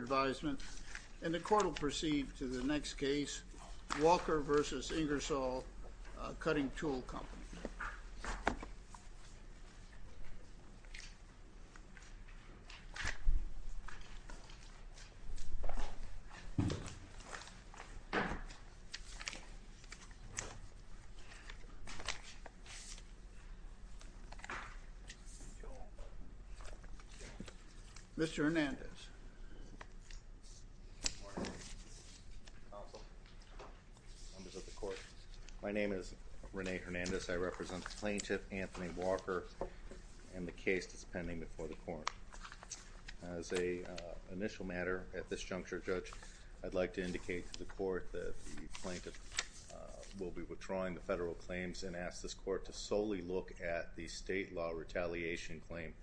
And the court will proceed to the next case, Walker v. Ingersoll Cutting Tool Company. Mr. Hernandez. Good morning, counsel, members of the court. My name is Rene Hernandez. I represent Plaintiff Anthony Walker and the case that's pending before the court. As an initial matter at this juncture, Judge, I'd like to indicate to the court that the plaintiff will be withdrawing the federal claims and ask this court to solely look at the state law retaliation claim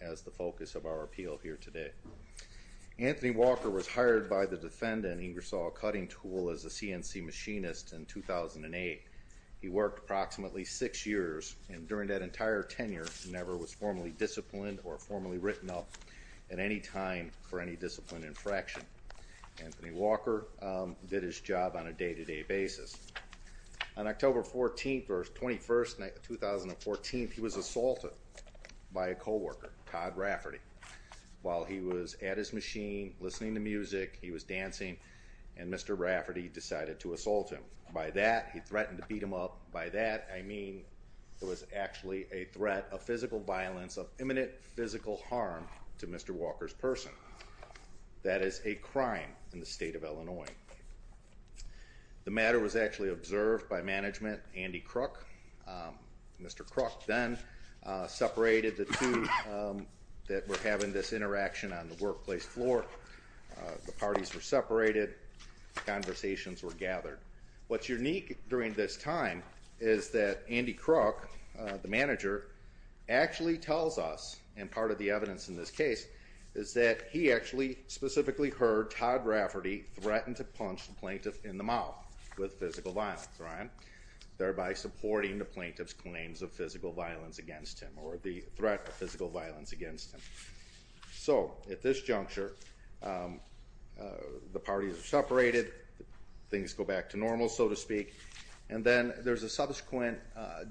as the focus of our appeal here today. Anthony Walker was hired by the defendant, Ingersoll Cutting Tool, as a CNC machinist in 2008. He worked approximately six years and during that entire tenure never was formally disciplined or formally written up at any time for any discipline infraction. Anthony Walker did his job on a day-to-day basis. On October 14th or 21st, 2014, he was assaulted by a co-worker, Todd Rafferty. While he was at his machine listening to music, he was dancing, and Mr. Rafferty decided to assault him. By that, he threatened to beat him up. By that, I mean it was actually a threat of physical violence of imminent physical harm to Mr. Walker's person. That is a crime in the state of Illinois. The matter was actually observed by management, Andy Crook. Mr. Crook then separated the two that were having this interaction on the workplace floor. The parties were separated. Conversations were gathered. What's unique during this time is that Andy Crook, the manager, actually tells us, and part of the evidence in this case, is that he actually specifically heard Todd Rafferty threaten to punch the plaintiff in the mouth with physical violence, thereby supporting the plaintiff's claims of physical violence against him or the threat of physical violence against him. At this juncture, the parties are separated. Things go back to normal, so to speak. Then there's a subsequent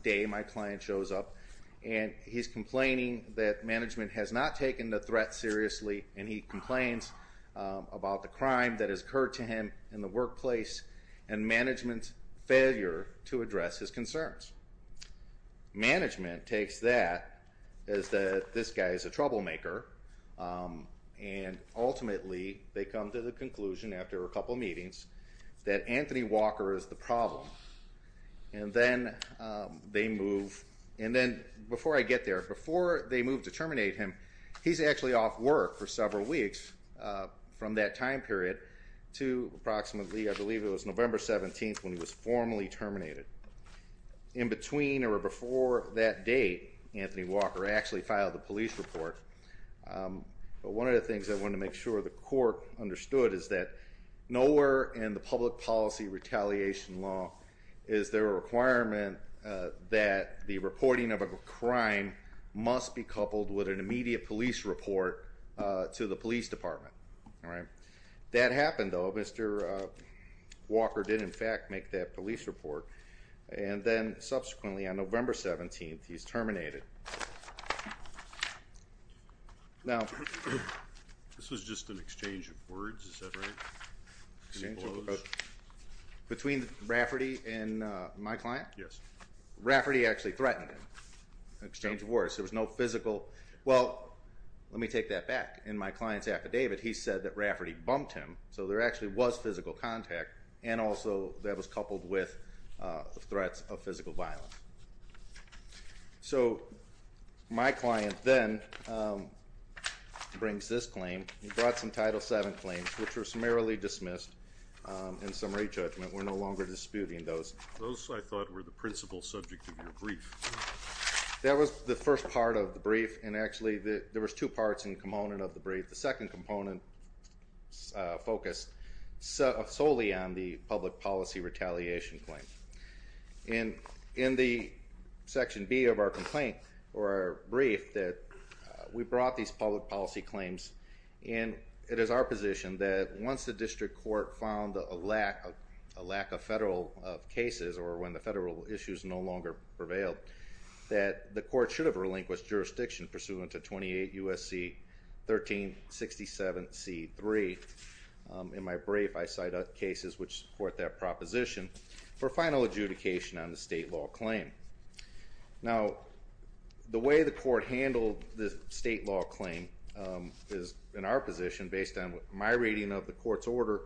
day. My client shows up, and he's complaining that management has not taken the threat seriously, and he complains about the crime that has occurred to him in the workplace and management's failure to address his concerns. Management takes that as that this guy is a troublemaker, and ultimately they come to the conclusion after a couple meetings that Anthony Walker is the problem. And then they move, and then before I get there, before they move to terminate him, he's actually off work for several weeks from that time period to approximately, I believe it was November 17th when he was formally terminated. In between or before that date, Anthony Walker actually filed a police report. But one of the things I wanted to make sure the court understood is that nowhere in the public policy retaliation law is there a requirement that the reporting of a crime must be coupled with an immediate police report to the police department. That happened, though. Mr. Walker did in fact make that police report, and then subsequently on November 17th, he's terminated. This was just an exchange of words, is that right? Between Rafferty and my client? Yes. Rafferty actually threatened him in exchange of words. There was no physical, well, let me take that back. In my client's affidavit, he said that Rafferty bumped him, so there actually was physical contact, and also that was coupled with threats of physical violence. So my client then brings this claim. He brought some Title VII claims, which were summarily dismissed in summary judgment. We're no longer disputing those. Those, I thought, were the principal subject of your brief. That was the first part of the brief, and actually there was two parts and component of the brief. The second component focused solely on the public policy retaliation claim. In the section B of our complaint, or our brief, we brought these public policy claims, and it is our position that once the district court found a lack of federal cases, or when the federal issues no longer prevailed, that the court should have relinquished jurisdiction pursuant to 28 U.S.C. 1367 C.3. In my brief, I cite cases which support that proposition for final adjudication on the state law claim. Now, the way the court handled the state law claim is in our position, based on my reading of the court's order,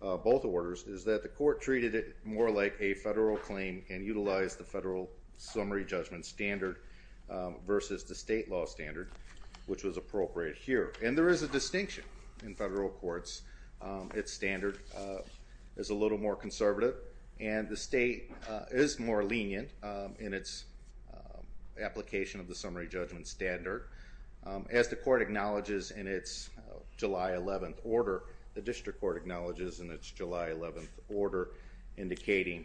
both orders, is that the court treated it more like a federal claim and utilized the federal summary judgment standard versus the state law standard, which was appropriate here. And there is a distinction in federal courts. Its standard is a little more conservative, and the state is more lenient in its application of the summary judgment standard. As the court acknowledges in its July 11th order, the district court acknowledges in its July 11th order, indicating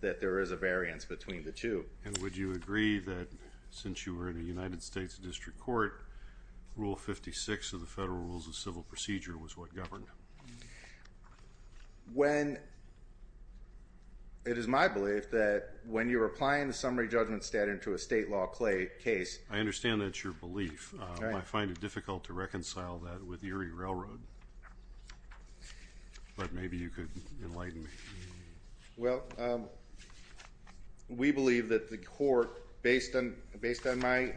that there is a variance between the two. And would you agree that, since you were in a United States district court, Rule 56 of the Federal Rules of Civil Procedure was what governed it? It is my belief that when you're applying the summary judgment standard to a state law case I understand that's your belief. I find it difficult to reconcile that with Erie Railroad. But maybe you could enlighten me. Well, we believe that the court, based on my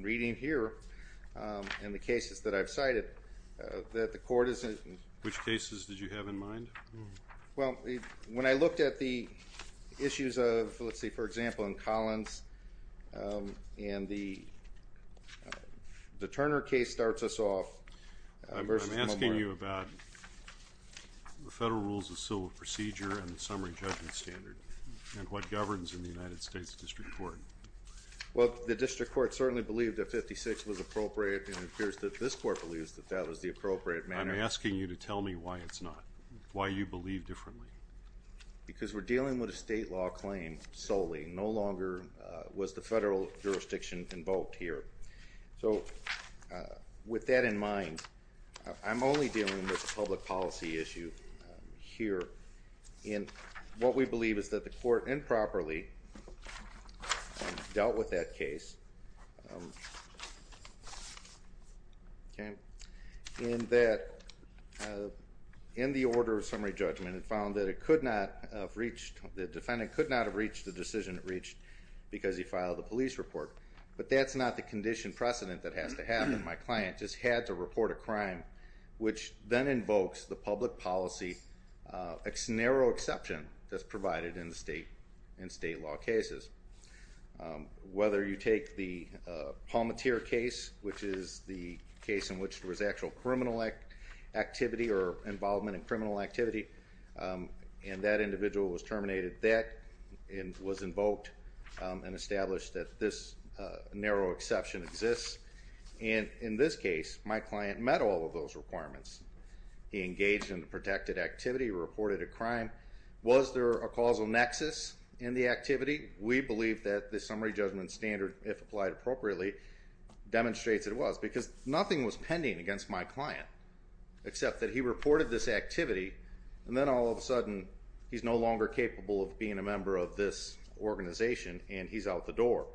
reading here and the cases that I've cited, that the court is in Which cases did you have in mind? Well, when I looked at the issues of, let's see, for example, in Collins, and the Turner case starts us off I'm asking you about the Federal Rules of Civil Procedure and the summary judgment standard, and what governs in the United States district court. Well, the district court certainly believed that 56 was appropriate, and it appears that this court believes that that was the appropriate manner. I'm asking you to tell me why it's not. Why you believe differently. Because we're dealing with a state law claim solely. No longer was the federal jurisdiction involved here. So, with that in mind, I'm only dealing with a public policy issue here. And what we believe is that the court improperly dealt with that case in that in the order of summary judgment it found that the defendant could not have reached the decision it reached because he filed the police report. But that's not the condition precedent that has to happen. My client just had to report a crime, which then invokes the public policy narrow exception that's provided in state law cases. Whether you take the Palmatier case, which is the case in which there was actual criminal activity or involvement in criminal activity and that individual was terminated, that was invoked and established that this narrow exception exists. And in this case, my client met all of those requirements. He engaged in a protected activity, reported a crime. Was there a causal nexus in the activity? We believe that the summary judgment standard, if applied appropriately, demonstrates it was. Because nothing was pending against my client except that he reported this activity and then all of a sudden he's no longer capable of being a member of this organization and he's out the door.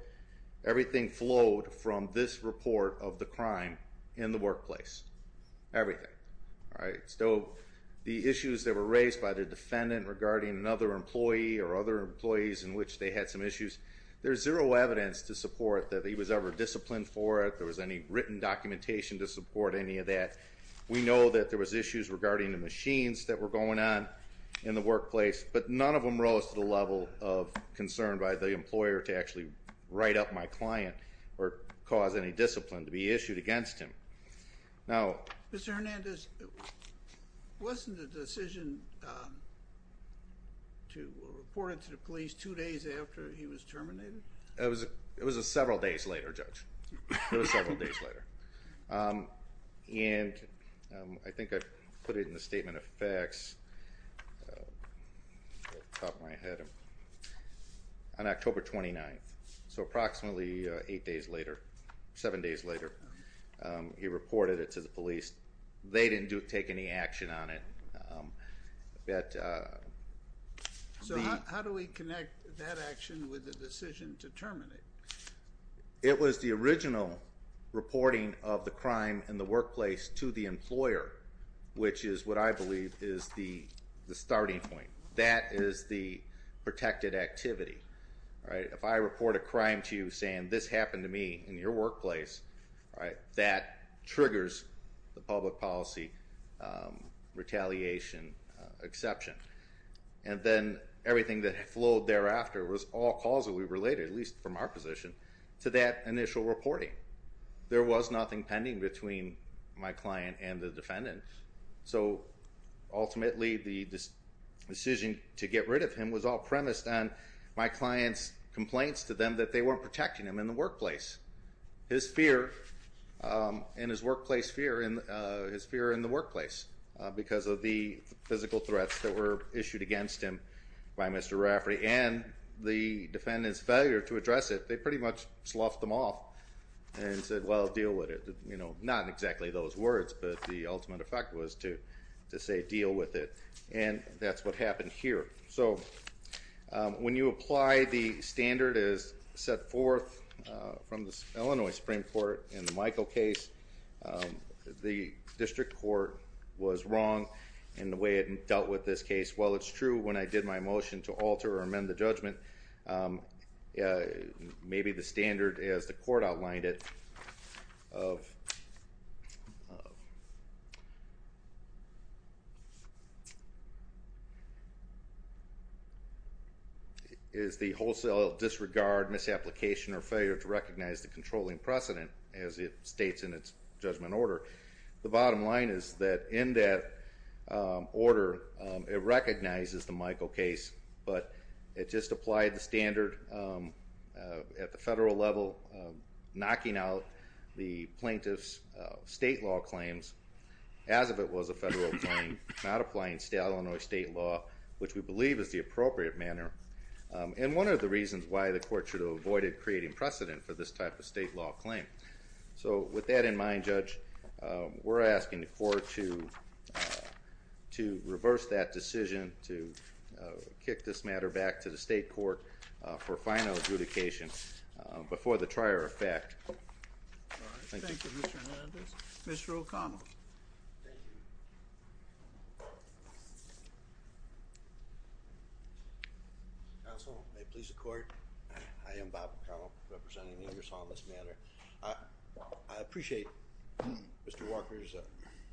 Everything flowed from this report of the crime in the workplace. Everything. So, the issues that were raised by the defendant regarding another employee or other employees in which they had some issues, there's zero evidence to support that he was ever disciplined for it. There was any written documentation to support any of that. We know that there was issues regarding the machines that were going on in the workplace, but none of them rose to the level of concern by the employer to actually write up my client or cause any discipline to be issued against him. Now... Mr. Hernandez, wasn't the decision to report it to the police two days after he was terminated? It was several days later, Judge. It was several days later. And I think I put it in the Statement of Facts, off the top of my head, on October 29th. So, approximately eight days later, seven days later, he reported it to the police. They didn't take any action on it. So, how do we connect that action with the decision to terminate? It was the original reporting of the crime in the workplace to the employer, which is what I believe is the starting point. That is the protected activity. If I report a crime to you saying, this happened to me in your workplace, that triggers the public policy retaliation exception. And then everything that flowed thereafter was all causally related, at least from our position, to that initial reporting. There was nothing pending between my client and the defendant. So, ultimately, the decision to get rid of him was all premised on my client's complaints to them that they weren't protecting him in the workplace. His fear in his workplace, his fear in the workplace, because of the physical threats that were issued against him by Mr. Rafferty, and the defendant's failure to address it. They pretty much sloughed them off and said, well, deal with it. Not exactly those words, but the ultimate effect was to say, deal with it. And that's what happened here. So, when you apply the standard as set forth from the Illinois Supreme Court in the Michael case, the district court was wrong in the way it dealt with this case. While it's true when I did my motion to alter or amend the judgment, maybe the standard, as the court outlined it, is the wholesale disregard, misapplication, or failure to recognize the controlling precedent, as it states in its judgment order. The bottom line is that in that order, it recognizes the Michael case, but it just applied the standard at the federal level, knocking out the plaintiff's state law claims, as if it was a federal claim, not applying Illinois state law, which we believe is the appropriate manner. And one of the reasons why the court should have avoided creating precedent for this type of state law claim. So, with that in mind, Judge, we're asking the court to reverse that decision, to kick this matter back to the state court for final adjudication before the trier of fact. Thank you. Thank you, Mr. Hernandez. Mr. O'Connell. Thank you. Counsel, may it please the court. I am Bob O'Connell, representing the Congress on this matter. I appreciate Mr. Walker's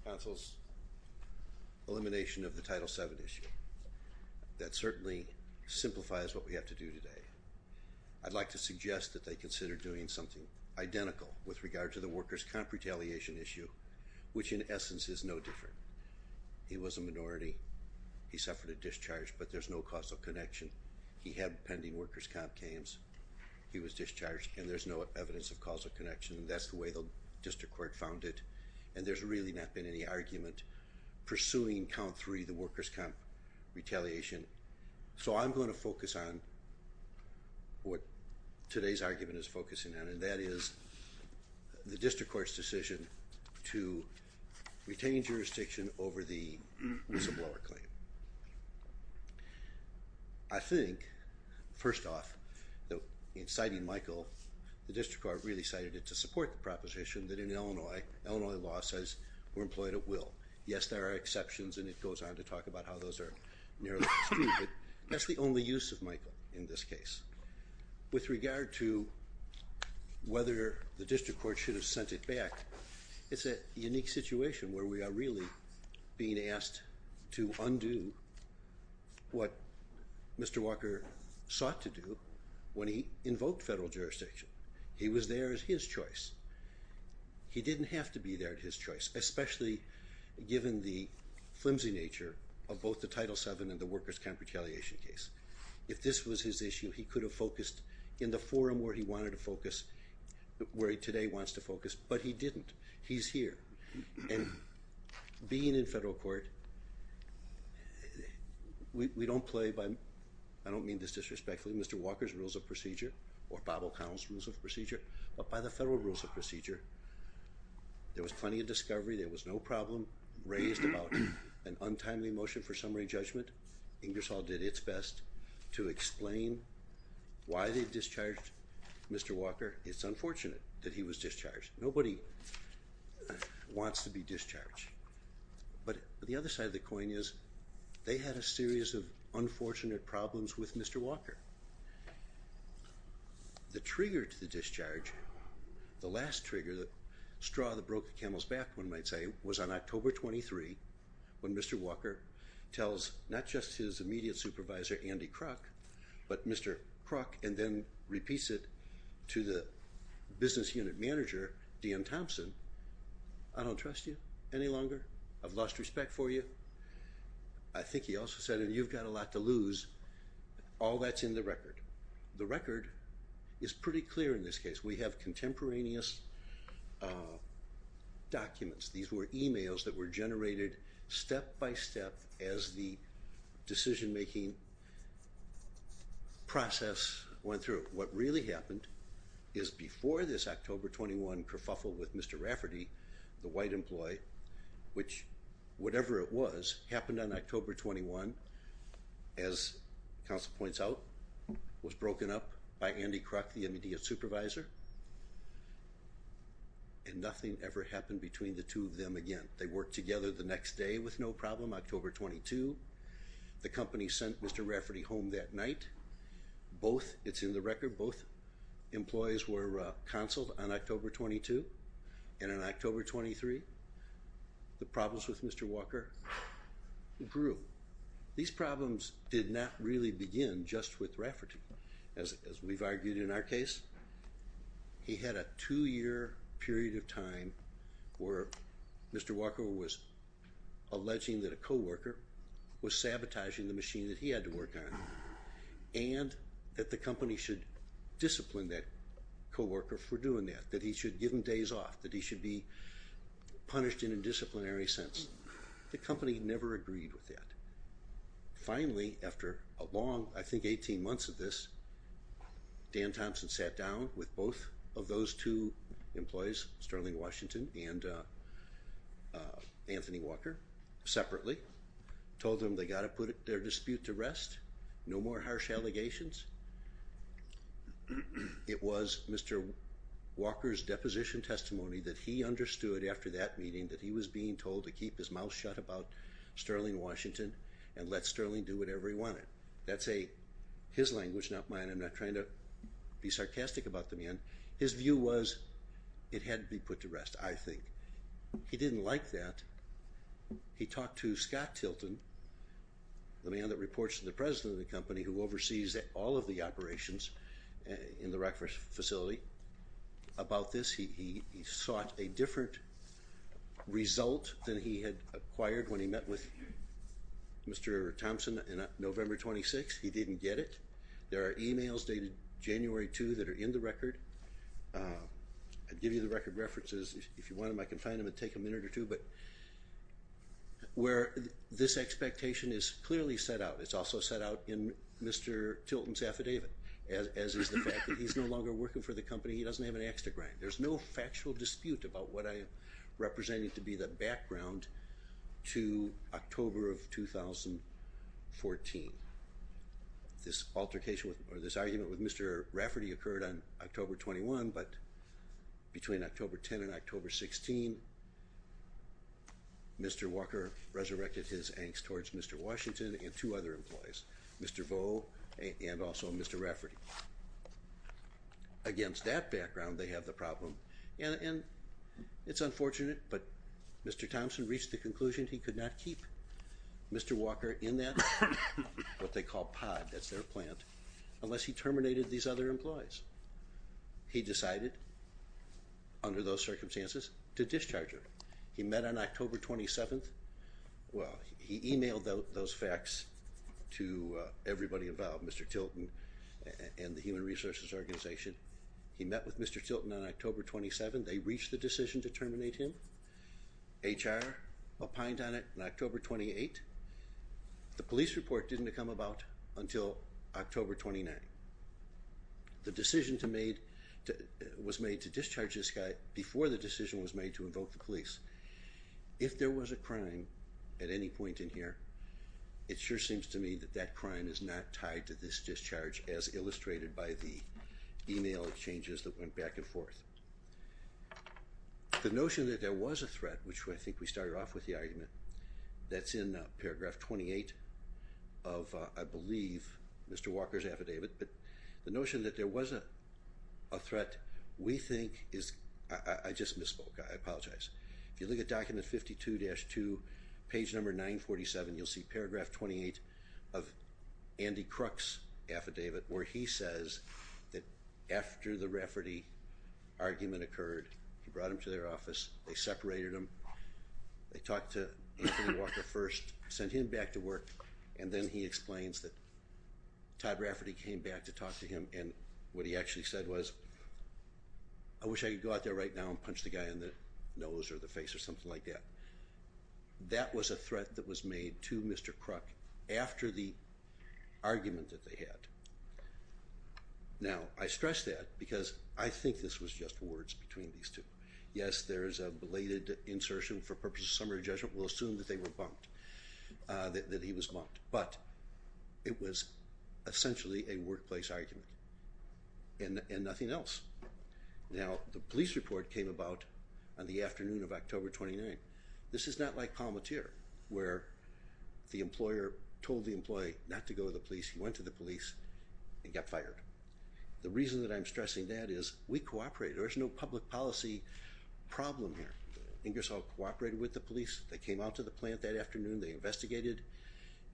counsel's elimination of the Title VII issue. That certainly simplifies what we have to do today. I'd like to suggest that they consider doing something identical with regard to the workers' comp retaliation issue, which in essence is no different. He was a minority. He suffered a discharge, but there's no causal connection. He had pending workers' comp claims. He was discharged, and there's no evidence of causal connection. That's the way the district court found it. And there's really not been any argument pursuing count three, the workers' comp retaliation. So I'm going to focus on what today's argument is focusing on, and that is the district court's decision to retain jurisdiction over the whistleblower claim. I think, first off, in citing Michael, the district court really cited it to support the proposition that in Illinois, Illinois law says we're employed at will. Yes, there are exceptions, and it goes on to talk about how those are nearly true, but that's the only use of Michael in this case. With regard to whether the district court should have sent it back, it's a unique situation where we are really being asked to undo what Mr. Walker sought to do when he invoked federal jurisdiction. He was there at his choice. He didn't have to be there at his choice, especially given the flimsy nature of both the Title VII and the workers' comp retaliation case. If this was his issue, he could have focused in the forum where he wanted to focus, where he today wants to focus, but he didn't. He's here. And being in federal court, we don't play by, I don't mean this disrespectfully, Mr. Walker's rules of procedure or Bob O'Connell's rules of procedure, but by the federal rules of procedure, there was plenty of discovery, there was no problem raised about an untimely motion for summary judgment. Ingersoll did its best to explain why they discharged Mr. Walker. It's unfortunate that he was discharged. Nobody wants to be discharged. But the other side of the coin is they had a series of unfortunate problems with Mr. Walker. The trigger to the discharge, the last trigger, the straw that broke the camel's back, one might say, was on October 23 when Mr. Walker tells not just his immediate supervisor, Andy Kruk, but Mr. Kruk, and then repeats it to the business unit manager, Dan Thompson, I don't trust you any longer. I've lost respect for you. I think he also said, and you've got a lot to lose. All that's in the record. The record is pretty clear in this case. We have contemporaneous documents. These were emails that were generated step by step as the decision-making process went through. What really happened is before this October 21 kerfuffle with Mr. Rafferty, the white employee, which, whatever it was, happened on October 21, as counsel points out, was broken up by Andy Kruk, the immediate supervisor, and nothing ever happened between the two of them again. They worked together the next day with no problem, October 22. The company sent Mr. Rafferty home that night. Both, it's in the record, both employees were counseled on October 22. And on October 23, the problems with Mr. Walker grew. These problems did not really begin just with Rafferty. As we've argued in our case, he had a two-year period of time where Mr. Walker was alleging that a co-worker was sabotaging the machine that he had to work on and that the company should discipline that co-worker for doing that, that he should give him days off, that he should be punished in a disciplinary sense. The company never agreed with that. Finally, after a long, I think, 18 months of this, Dan Thompson sat down with both of those two employees, Sterling Washington and Anthony Walker, separately, told them they got to put their dispute to rest, no more harsh allegations. It was Mr. Walker's deposition testimony that he understood after that meeting that he was being told to keep his mouth shut about Sterling Washington and let Sterling do whatever he wanted. That's his language, not mine. I'm not trying to be sarcastic about the man. His view was it had to be put to rest, I think. He didn't like that. He talked to Scott Tilton, the man that reports to the president of the company who oversees all of the operations in the Rutgers facility, about this. He sought a different result than he had acquired when he met with Mr. Thompson on November 26th. He didn't get it. There are e-mails dated January 2 that are in the record. I'll give you the record references. If you want them, I can find them. It would take a minute or two. Where this expectation is clearly set out, it's also set out in Mr. Tilton's affidavit, as is the fact that he's no longer working for the company. He doesn't have an axe to grind. There's no factual dispute about what I am representing to be the background to October of 2014. This altercation or this argument with Mr. Rafferty occurred on October 21, but between October 10 and October 16, Mr. Walker resurrected his angst towards Mr. Washington and two other employees, Mr. Vo and also Mr. Rafferty. Against that background, they have the problem. And it's unfortunate, but Mr. Thompson reached the conclusion he could not keep Mr. Walker in that what they call pod, that's their plant, unless he terminated these other employees. He decided, under those circumstances, to discharge him. He met on October 27th. Well, he e-mailed those facts to everybody involved, Mr. Tilton, and the Human Resources Organization. He met with Mr. Tilton on October 27th. They reached the decision to terminate him. HR opined on it on October 28th. The police report didn't come about until October 29th. The decision was made to discharge this guy before the decision was made to invoke the police. If there was a crime at any point in here, it sure seems to me that that crime is not tied to this discharge as illustrated by the e-mail changes that went back and forth. The notion that there was a threat, which I think we started off with the argument, that's in paragraph 28 of, I believe, Mr. Walker's affidavit. But the notion that there was a threat, we think, is I just misspoke. I apologize. If you look at document 52-2, page number 947, you'll see paragraph 28 of Andy Crook's affidavit where he says that after the Rafferty argument occurred, he brought him to their office, they separated him, they talked to Anthony Walker first, sent him back to work, and then he explains that Todd Rafferty came back to talk to him and what he actually said was, I wish I could go out there right now and punch the guy in the nose or the face or something like that. That was a threat that was made to Mr. Crook after the argument that they had. Now, I stress that because I think this was just words between these two. Yes, there is a belated insertion for purposes of summary judgment. We'll assume that they were bumped, that he was bumped. But it was essentially a workplace argument and nothing else. Now, the police report came about on the afternoon of October 29. This is not like Palmatier where the employer told the employee not to go to the police. He went to the police and got fired. The reason that I'm stressing that is we cooperated. There's no public policy problem here. Ingersoll cooperated with the police. They came out to the plant that afternoon. They investigated,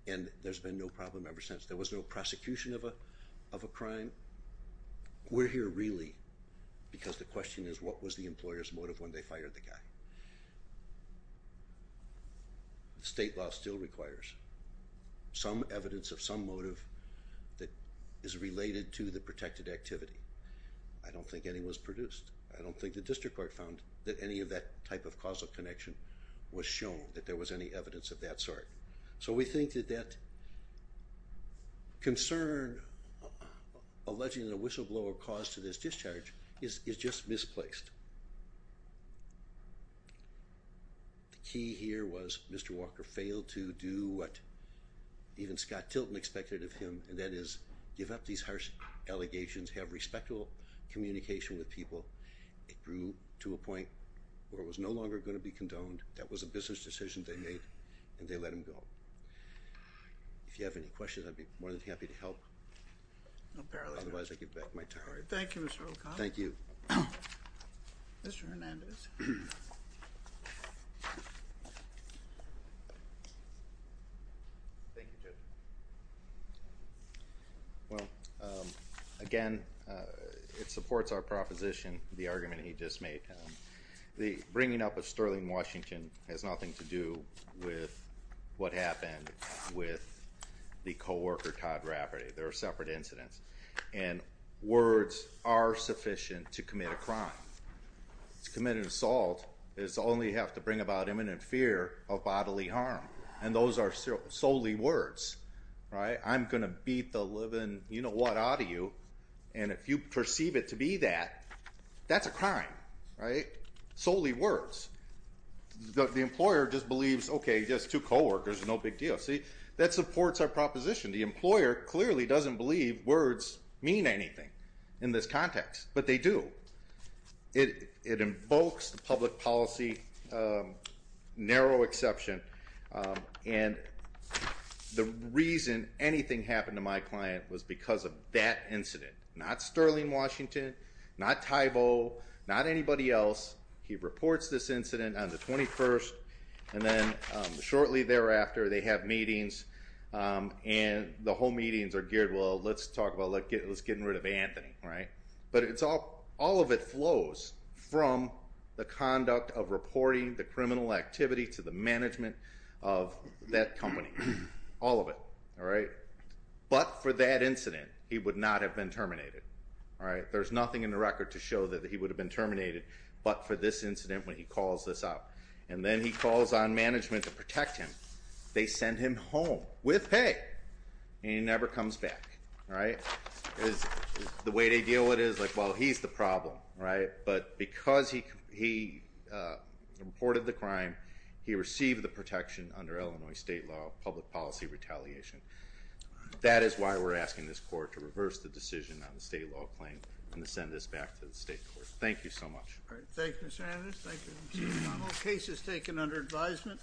and there's been no problem ever since. There was no prosecution of a crime. We're here really because the question is what was the employer's motive when they fired the guy. State law still requires some evidence of some motive that is related to the protected activity. I don't think any was produced. I don't think the district court found that any of that type of causal connection was shown, that there was any evidence of that sort. So we think that that concern alleging a whistleblower cause to this discharge is just misplaced. The key here was Mr. Walker failed to do what even Scott Tilton expected of him, and that is give up these harsh allegations, have respectful communication with people. It grew to a point where it was no longer going to be condoned. That was a business decision they made, and they let him go. If you have any questions, I'd be more than happy to help. Otherwise, I give back my time. Thank you, Mr. Olcott. Mr. Hernandez. Thank you, Judge. Well, again, it supports our proposition, the argument he just made. The bringing up of Sterling Washington has nothing to do with what happened with the co-worker Todd Rafferty. They're separate incidents, and words are sufficient to commit a crime. To commit an assault is to only have to bring about imminent fear of bodily harm, and those are solely words, right? I'm going to beat the living you-know-what out of you, and if you perceive it to be that, that's a crime, right? Solely words. The employer just believes, okay, just two co-workers, no big deal. See, that supports our proposition. The employer clearly doesn't believe words mean anything in this context, but they do. It invokes the public policy narrow exception, and the reason anything happened to my client was because of that incident. Not Sterling Washington, not Tybo, not anybody else. He reports this incident on the 21st, and then shortly thereafter, they have meetings, and the whole meetings are geared, well, let's talk about getting rid of Anthony, right? But all of it flows from the conduct of reporting the criminal activity to the management of that company, all of it, all right? But for that incident, he would not have been terminated, all right? There's nothing in the record to show that he would have been terminated, but for this incident, when he calls this out, and then he calls on management to protect him, they send him home with pay, and he never comes back, all right? The way they deal with it is, like, well, he's the problem, right? But because he reported the crime, he received the protection under Illinois state law, public policy retaliation. That is why we're asking this court to reverse the decision on the state law claim and to send this back to the state court. Thank you so much. All right, thank you, Mr. Analyst. Thank you, Mr. McConnell. Case is taken under advisement.